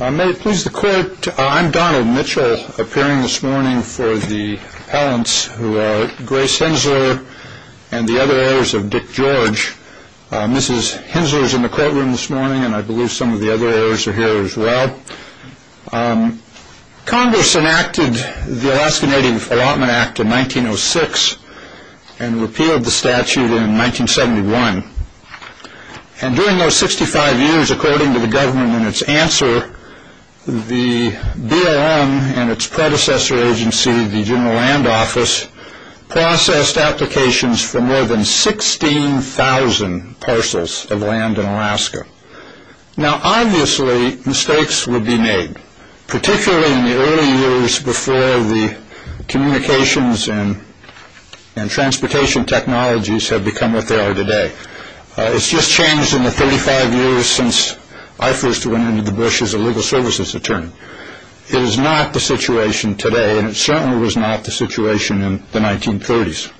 I'm Donald Mitchell, appearing this morning for the appellants who are Grace Henzler and the other heirs of Dick George. Mrs. Henzler is in the courtroom this morning and I believe some of the other heirs are here as well. Congress enacted the Alaska Native Allotment Act in 1906 and repealed the statute in 1971. And during those 65 years, according to the government in its answer, the BLM and its predecessor agency, the General Land Office, processed applications for more than 16,000 parcels of land in Alaska. Now, obviously, mistakes would be made, particularly in the early years before the communications and transportation technologies have become what they are today. It's just changed in the 35 years since I first went into the bush as a legal services attorney. It is not the situation today and it certainly was not the situation in the 1930s.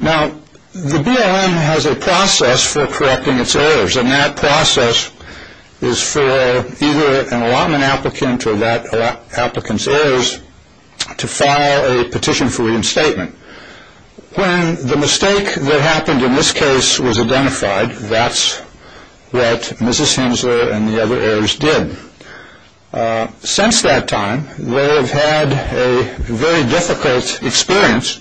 Now, the BLM has a process for correcting its errors and that process is for either an allotment applicant or that applicant's heirs to file a petition for reinstatement. When the mistake that happened in this case was identified, that's what Mrs. Henzler and the other heirs did. Since that time, they have had a very difficult experience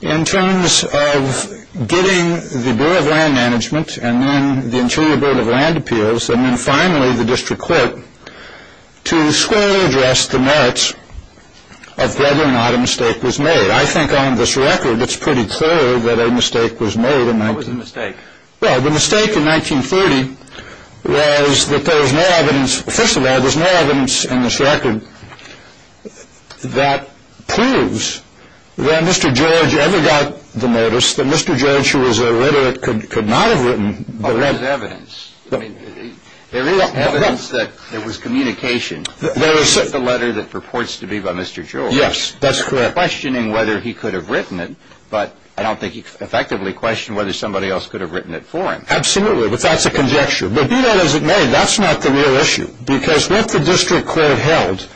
in terms of getting the Bureau of Land Management and then the Interior Bureau of Land Appeals and then finally the district court to squarely address the merits of whether or not a mistake was made. I think on this record, it's pretty clear that a mistake was made. What was the mistake? Well, the mistake in 1930 was that there was no evidence. First of all, there's no evidence in this record that proves that Mr. George ever got the notice, that Mr. George, who was a literate, could not have written the letter. There is evidence. There is evidence that there was communication with the letter that purports to be by Mr. George. Yes, that's correct. They were questioning whether he could have written it, but I don't think he effectively questioned whether somebody else could have written it for him. Absolutely, but that's a conjecture. But be that as it may, that's not the real issue because what the district court held,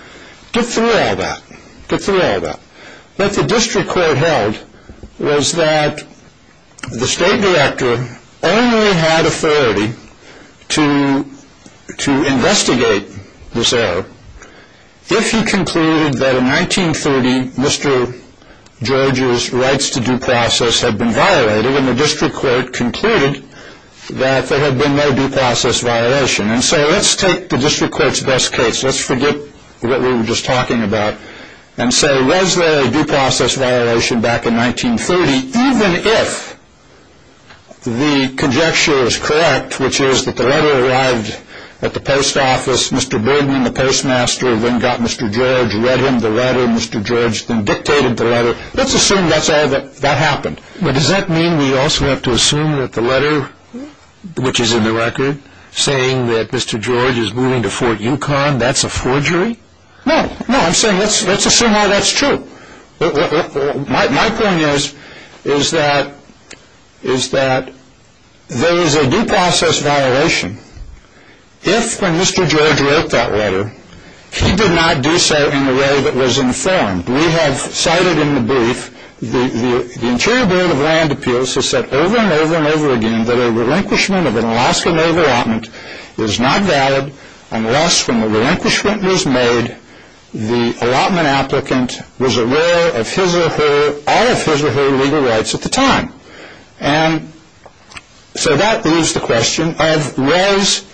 get through all that, get through all that. What the district court held was that the state director only had authority to investigate this error if he concluded that in 1930 Mr. George's rights to due process had been violated and the district court concluded that there had been no due process violation. And so let's take the district court's best case. Let's forget what we were just talking about and say was there a due process violation back in 1930, even if the conjecture is correct, which is that the letter arrived at the post office, Mr. Bergman, the postmaster, then got Mr. George, read him the letter, Mr. George then dictated the letter. Let's assume that's all that happened. But does that mean we also have to assume that the letter, which is in the record, saying that Mr. George is moving to Fort Yukon, that's a forgery? No, no, I'm saying let's assume all that's true. My point is that there is a due process violation if when Mr. George wrote that letter, he did not do so in a way that was informed. We have cited in the brief the Interior Board of Land Appeals has said over and over and over again that a relinquishment of an Alaska Navy allotment is not valid unless when the relinquishment was made, the allotment applicant was aware of his or her, all of his or her legal rights at the time. And so that leaves the question of was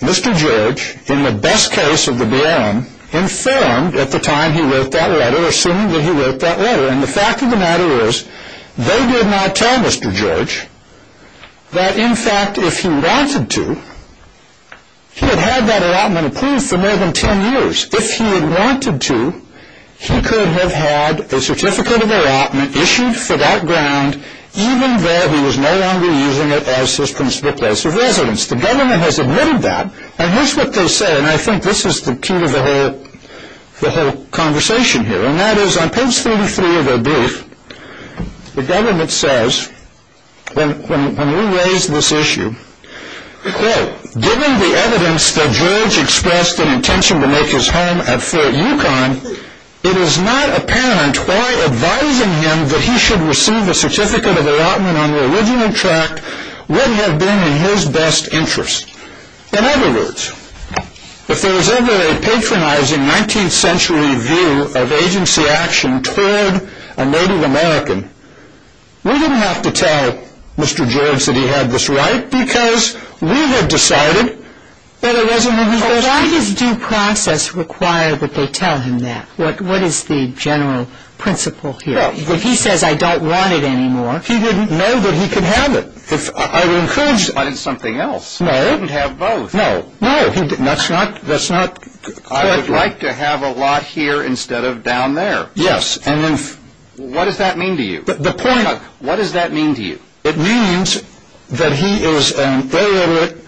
Mr. George, in the best case of the BRM, informed at the time he wrote that letter, assuming that he wrote that letter. And the fact of the matter is they did not tell Mr. George that, in fact, if he wanted to, he had had that allotment approved for more than 10 years. If he had wanted to, he could have had a certificate of allotment issued for that ground, even though he was no longer using it as his principal place of residence. The government has admitted that. And here's what they say, and I think this is the key to the whole conversation here, and that is on page 33 of their brief, the government says, when we raise this issue, quote, given the evidence that George expressed an intention to make his home at Fort Yukon, it is not apparent why advising him that he should receive a certificate of allotment on the original tract would have been in his best interest. In other words, if there was ever a patronizing 19th century view of agency action toward a Native American, we didn't have to tell Mr. George that he had this right because we had decided that it wasn't in his best interest. Why does due process require that they tell him that? What is the general principle here? If he says, I don't want it anymore. He wouldn't know that he could have it. I would encourage him. But it's something else. No. He wouldn't have both. No. No. That's not quite right. I would like to have a lot here instead of down there. Yes. And if. What does that mean to you? The point. What does that mean to you? It means that he is an illiterate,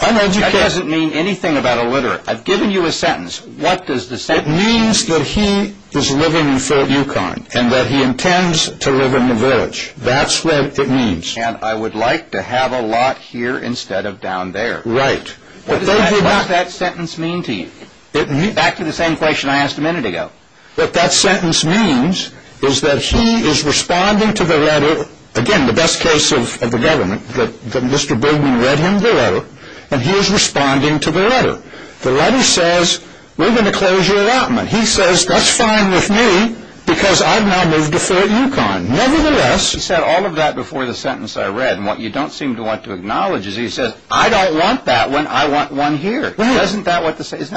uneducated. That doesn't mean anything about illiterate. I've given you a sentence. What does the sentence mean? It means that he is living in Fort Yukon and that he intends to live in the village. That's what it means. And I would like to have a lot here instead of down there. Right. What does that sentence mean to you? It means. Back to the same question I asked a minute ago. What that sentence means is that he is responding to the letter. Again, the best case of the government, that Mr. Bergen read him the letter and he is responding to the letter. The letter says, we're going to close your allotment. He says, that's fine with me because I've now moved to Fort Yukon. Nevertheless. He said all of that before the sentence I read. And what you don't seem to want to acknowledge is he says, I don't want that when I want one here. Isn't that what the sentence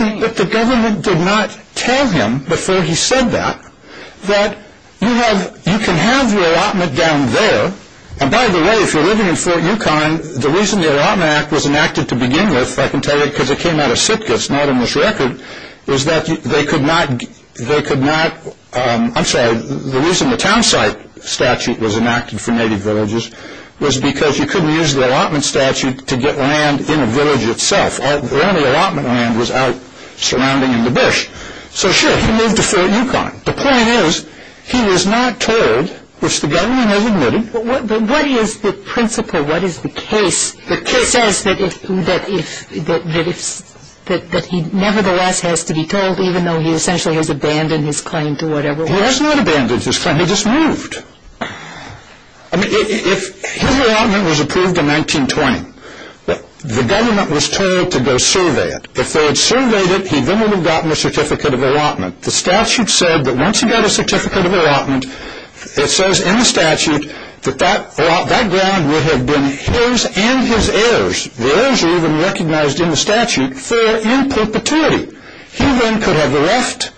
means? But the government did not tell him before he said that, that you can have your allotment down there. And by the way, if you're living in Fort Yukon, the reason the Allotment Act was enacted to begin with, if I can tell you because it came out of Sitka, it's not on this record, is that they could not, they could not, I'm sorry, the reason the town site statute was enacted for native villages was because you couldn't use the allotment statute to get land in a village itself. The only allotment land was out surrounding the bush. So sure, he moved to Fort Yukon. The point is, he was not told, which the government has admitted. What is the principle? What is the case? The case says that he nevertheless has to be told, even though he essentially has abandoned his claim to whatever land. He has not abandoned his claim. He just moved. I mean, if his allotment was approved in 1920, the government was told to go survey it. If they had surveyed it, he then would have gotten a certificate of allotment. The statute said that once he got a certificate of allotment, it says in the statute that that ground would have been his and his heirs. The heirs are even recognized in the statute for in perpetuity. He then could have left,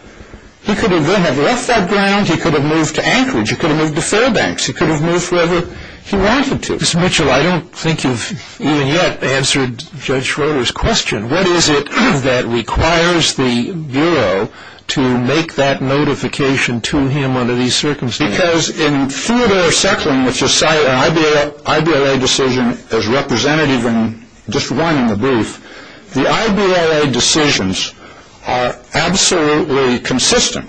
he could have then left that ground, he could have moved to Anchorage, he could have moved to Fairbanks, he could have moved wherever he wanted to. Mr. Mitchell, I don't think you've even yet answered Judge Schroeder's question. What is it that requires the Bureau to make that notification to him under these circumstances? Because in Theodore Secklin, which is cited in an IBLA decision as representative in just one in the brief, the IBLA decisions are absolutely consistent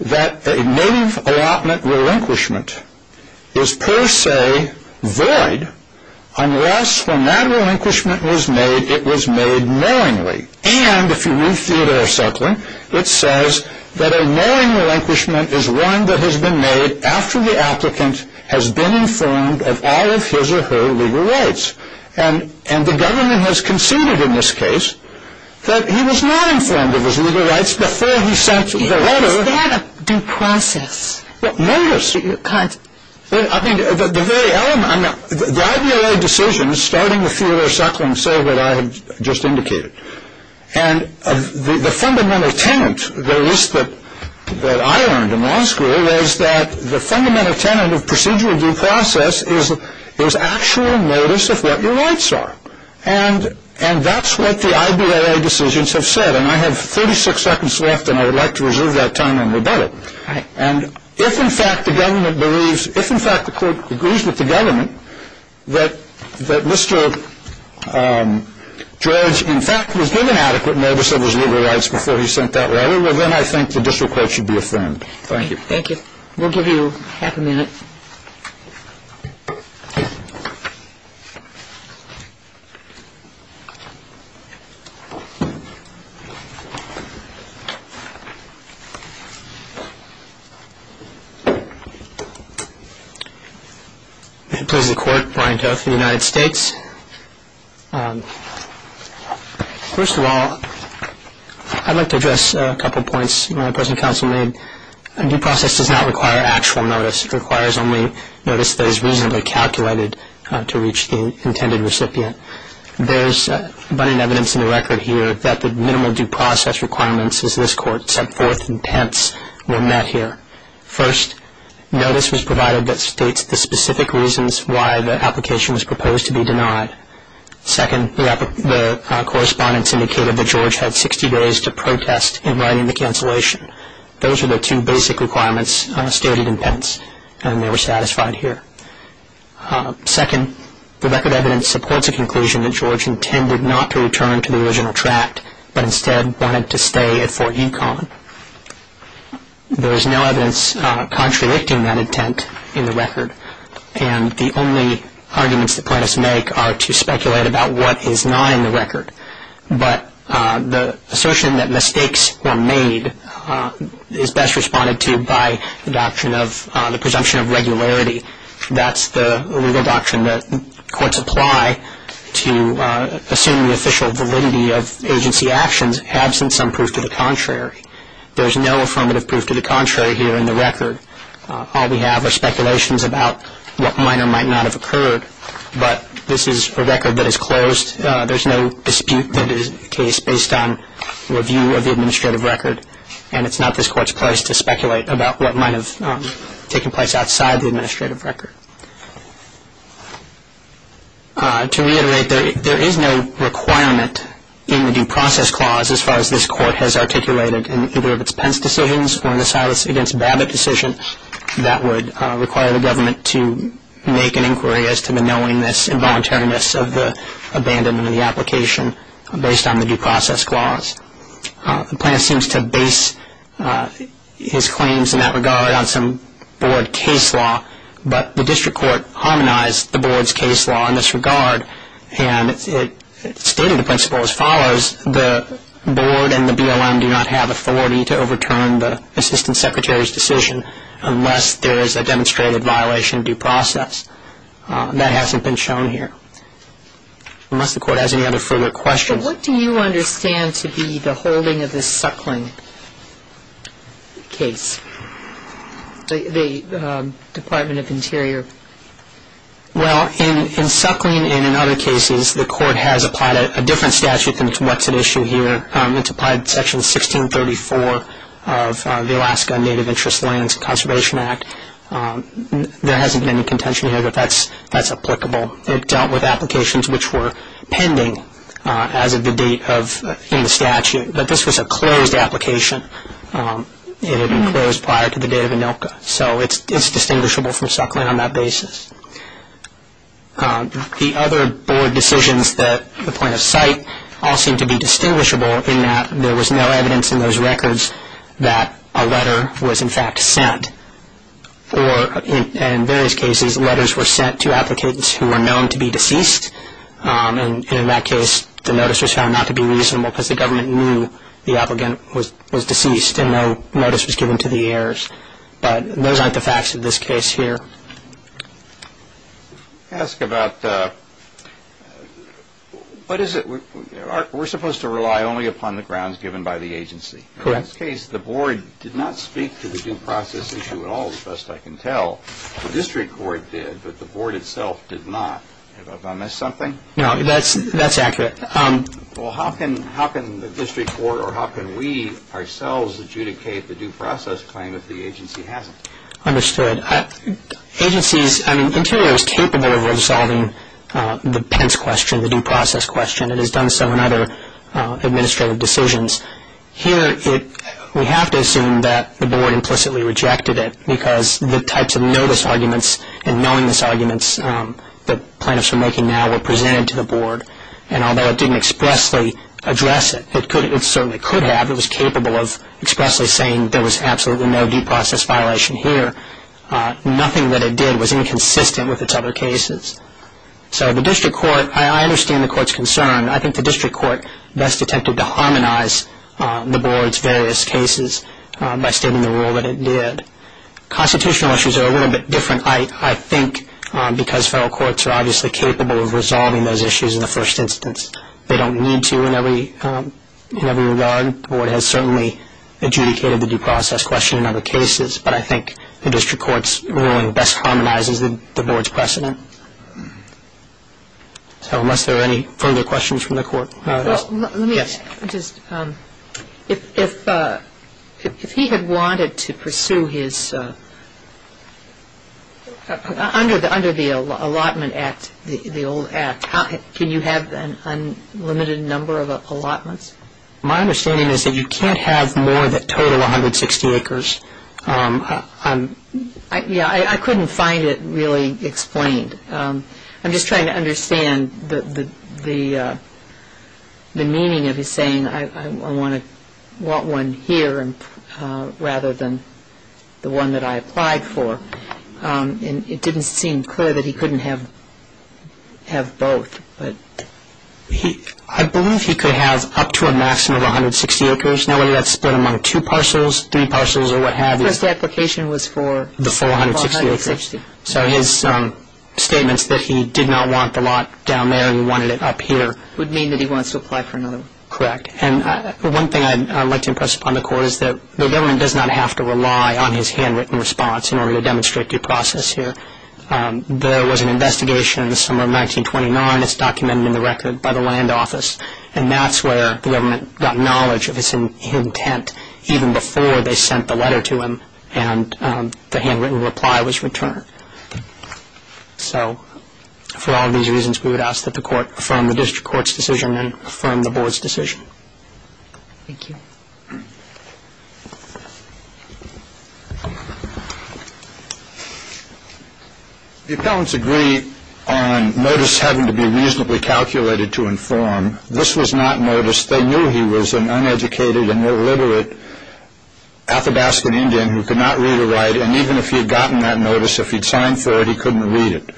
that a native allotment relinquishment is per se void unless when that relinquishment was made, it was made knowingly. And if you read Theodore Secklin, it says that a knowing relinquishment is one that has been made after the applicant has been informed of all of his or her legal rights. And the government has conceded in this case that he was not informed of his legal rights before he sent the letter. Is that a due process? Well, notice. I mean, the very element. The IBLA decisions starting with Theodore Secklin say what I have just indicated. And the fundamental tenet, at least that I learned in law school, was that the fundamental tenet of procedural due process is actual notice of what your rights are. And that's what the IBLA decisions have said. And I have 36 seconds left, and I would like to reserve that time and rebut it. All right. And if, in fact, the court agrees with the government that Mr. George, in fact, was given adequate notice of his legal rights before he sent that letter, well, then I think the district court should be affirmed. Thank you. Thank you. We'll give you half a minute. If it pleases the Court, Brian Toth for the United States. First of all, I'd like to address a couple of points my present counsel made. A due process does not require actual notice. It requires only notice that is reasonably calculated to reach the intended recipient. There is abundant evidence in the record here that the minimal due process requirements, as this court set forth in Pence, were met here. First, notice was provided that states the specific reasons why the application was proposed to be denied. Second, the correspondence indicated that George had 60 days to protest in writing the cancellation. Those are the two basic requirements stated in Pence, and they were satisfied here. Second, the record evidence supports a conclusion that George intended not to return to the original tract, but instead wanted to stay at Fort Econ. There is no evidence contradicting that intent in the record, and the only arguments the plaintiffs make are to speculate about what is not in the record. But the assertion that mistakes were made is best responded to by the doctrine of the presumption of regularity. That's the legal doctrine that courts apply to assume the official validity of agency actions, absent some proof to the contrary. There is no affirmative proof to the contrary here in the record. All we have are speculations about what might or might not have occurred, but this is a record that is closed. There is no dispute that is based on review of the administrative record, and it's not this Court's place to speculate about what might have taken place outside the administrative record. To reiterate, there is no requirement in the Due Process Clause, as far as this Court has articulated in either of its Pence decisions or in the Silas v. Babbitt decision, that would require the government to make an inquiry as to the knowingness and voluntariness of the abandonment of the application based on the Due Process Clause. Pence seems to base his claims in that regard on some Board case law, but the District Court harmonized the Board's case law in this regard, and it stated the principle as follows, the Board and the BLM do not have authority to overturn the Assistant Secretary's decision unless there is a demonstrated violation of due process. That hasn't been shown here, unless the Court has any other further questions. What do you understand to be the holding of this Suckling case, the Department of Interior? Well, in Suckling and in other cases, the Court has applied a different statute than what's at issue here. It's applied Section 1634 of the Alaska Native Interest Lands Conservation Act. There hasn't been any contention here, but that's applicable. It dealt with applications which were pending as of the date in the statute, but this was a closed application. It had been closed prior to the date of ANILCA, so it's distinguishable from Suckling on that basis. The other Board decisions that the plaintiffs cite all seem to be distinguishable in that there was no evidence in those records that a letter was in fact sent, or in various cases letters were sent to applicants who were known to be deceased, and in that case the notice was found not to be reasonable because the government knew the applicant was deceased and no notice was given to the heirs. But those aren't the facts of this case here. Let me ask about what is it? We're supposed to rely only upon the grounds given by the agency. Correct. In this case, the Board did not speak to the due process issue at all, as best I can tell. The District Court did, but the Board itself did not. Have I missed something? No, that's accurate. Well, how can the District Court or how can we ourselves adjudicate the due process claim if the agency hasn't? Understood. Interio is capable of resolving the Pence question, the due process question, and has done so in other administrative decisions. Here we have to assume that the Board implicitly rejected it because the types of notice arguments and knowingness arguments that plaintiffs are making now were presented to the Board, and although it didn't expressly address it, it certainly could have. It was capable of expressly saying there was absolutely no due process violation here. Nothing that it did was inconsistent with its other cases. So the District Court, I understand the Court's concern. I think the District Court best attempted to harmonize the Board's various cases by stating the rule that it did. Constitutional issues are a little bit different, I think, because federal courts are obviously capable of resolving those issues in the first instance. They don't need to in every regard. The Board has certainly adjudicated the due process question in other cases, but I think the District Court's ruling best harmonizes the Board's precedent. So unless there are any further questions from the Court. Yes. Let me just, if he had wanted to pursue his, under the Allotment Act, the old Act, can you have an unlimited number of allotments? My understanding is that you can't have more than a total of 160 acres. I couldn't find it really explained. I'm just trying to understand the meaning of his saying, I want one here rather than the one that I applied for. It didn't seem clear that he couldn't have both. I believe he could have up to a maximum of 160 acres. Now, whether that's split among two parcels, three parcels, or what have you. The first application was for 460. So his statements that he did not want the lot down there, he wanted it up here. Would mean that he wants to apply for another one. Correct. And one thing I'd like to impress upon the Court is that the government does not have to rely on his handwritten response in order to demonstrate due process here. There was an investigation in the summer of 1929. It's documented in the record by the Land Office, and that's where the government got knowledge of his intent even before they sent the letter to him and the handwritten reply was returned. So for all of these reasons, we would ask that the Court affirm the District Court's decision and affirm the Board's decision. Thank you. Thank you. The appellants agree on notice having to be reasonably calculated to inform. This was not notice. They knew he was an uneducated and illiterate Athabascan Indian who could not read or write, and even if he had gotten that notice, if he'd signed for it, he couldn't read it.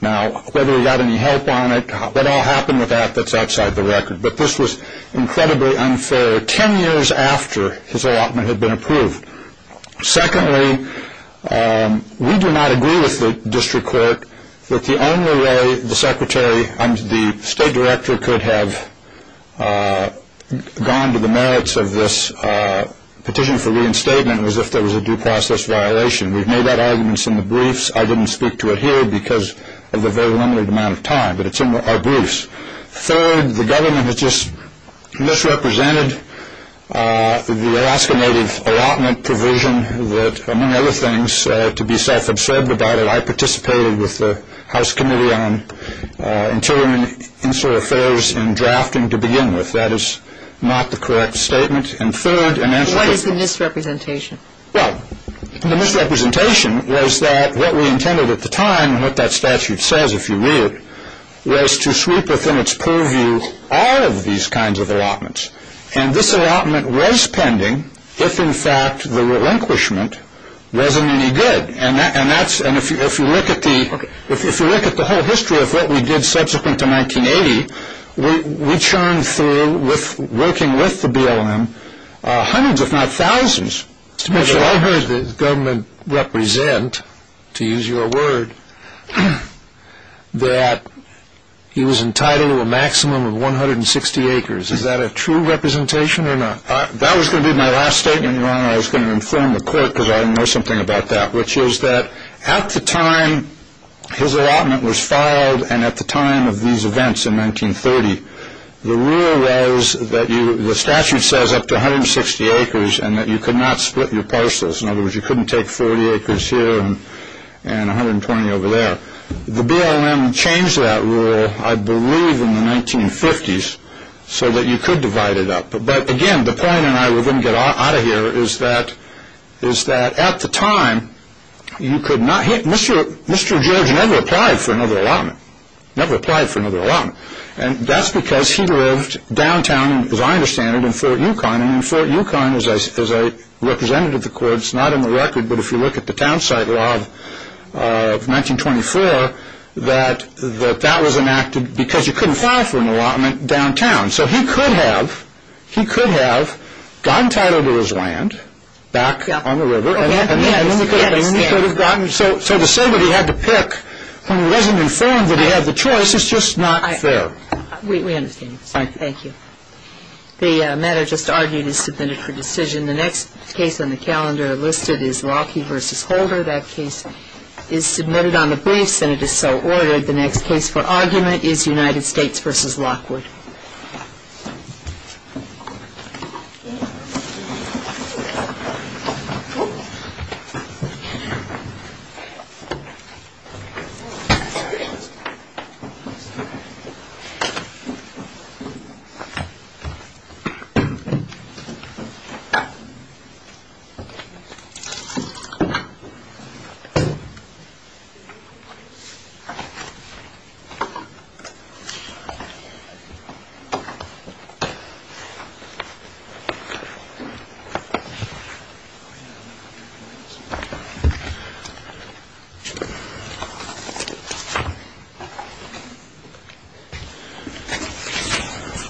Now, whether he got any help on it, what all happened with that, that's outside the record. But this was incredibly unfair. Ten years after his allotment had been approved. Secondly, we do not agree with the District Court that the only way the Secretary, the State Director could have gone to the merits of this petition for reinstatement was if there was a due process violation. We've made that argument in the briefs. I didn't speak to it here because of the very limited amount of time, but it's in our briefs. Third, the government has just misrepresented the Alaska Native allotment provision that, among other things, to be self-absorbed about it, I participated with the House Committee on Interior and Insular Affairs in drafting to begin with. That is not the correct statement. And third, in answer to this. What is the misrepresentation? Well, the misrepresentation was that what we intended at the time, and what that statute says, if you read it, was to sweep within its purview all of these kinds of allotments. And this allotment was pending if, in fact, the relinquishment wasn't any good. And if you look at the whole history of what we did subsequent to 1980, we churned through, working with the BLM, hundreds if not thousands. Mr. Mitchell, I heard the government represent, to use your word, that he was entitled to a maximum of 160 acres. Is that a true representation or not? That was going to be my last statement, Your Honor. I was going to inform the court because I didn't know something about that, which is that at the time his allotment was filed and at the time of these events in 1930, the rule was that the statute says up to 160 acres and that you could not split your parcels. In other words, you couldn't take 40 acres here and 120 over there. The BLM changed that rule, I believe, in the 1950s so that you could divide it up. But, again, the point, and I'm going to get out of here, is that at the time you could not hit. Mr. George never applied for another allotment, never applied for another allotment. And that's because he lived downtown, as I understand it, in Fort Yukon. And in Fort Yukon, as a representative of the courts, not in the record, but if you look at the town site law of 1924, that that was enacted because you couldn't file for an allotment downtown. So he could have gotten title to his land back on the river. So to say that he had to pick when he wasn't informed that he had the choice is just not fair. We understand. Thank you. The matter just argued is submitted for decision. The next case on the calendar listed is Lockheed v. Holder. That case is submitted on the briefs and it is so ordered. The next case for argument is United States v. Lockwood. Thank you.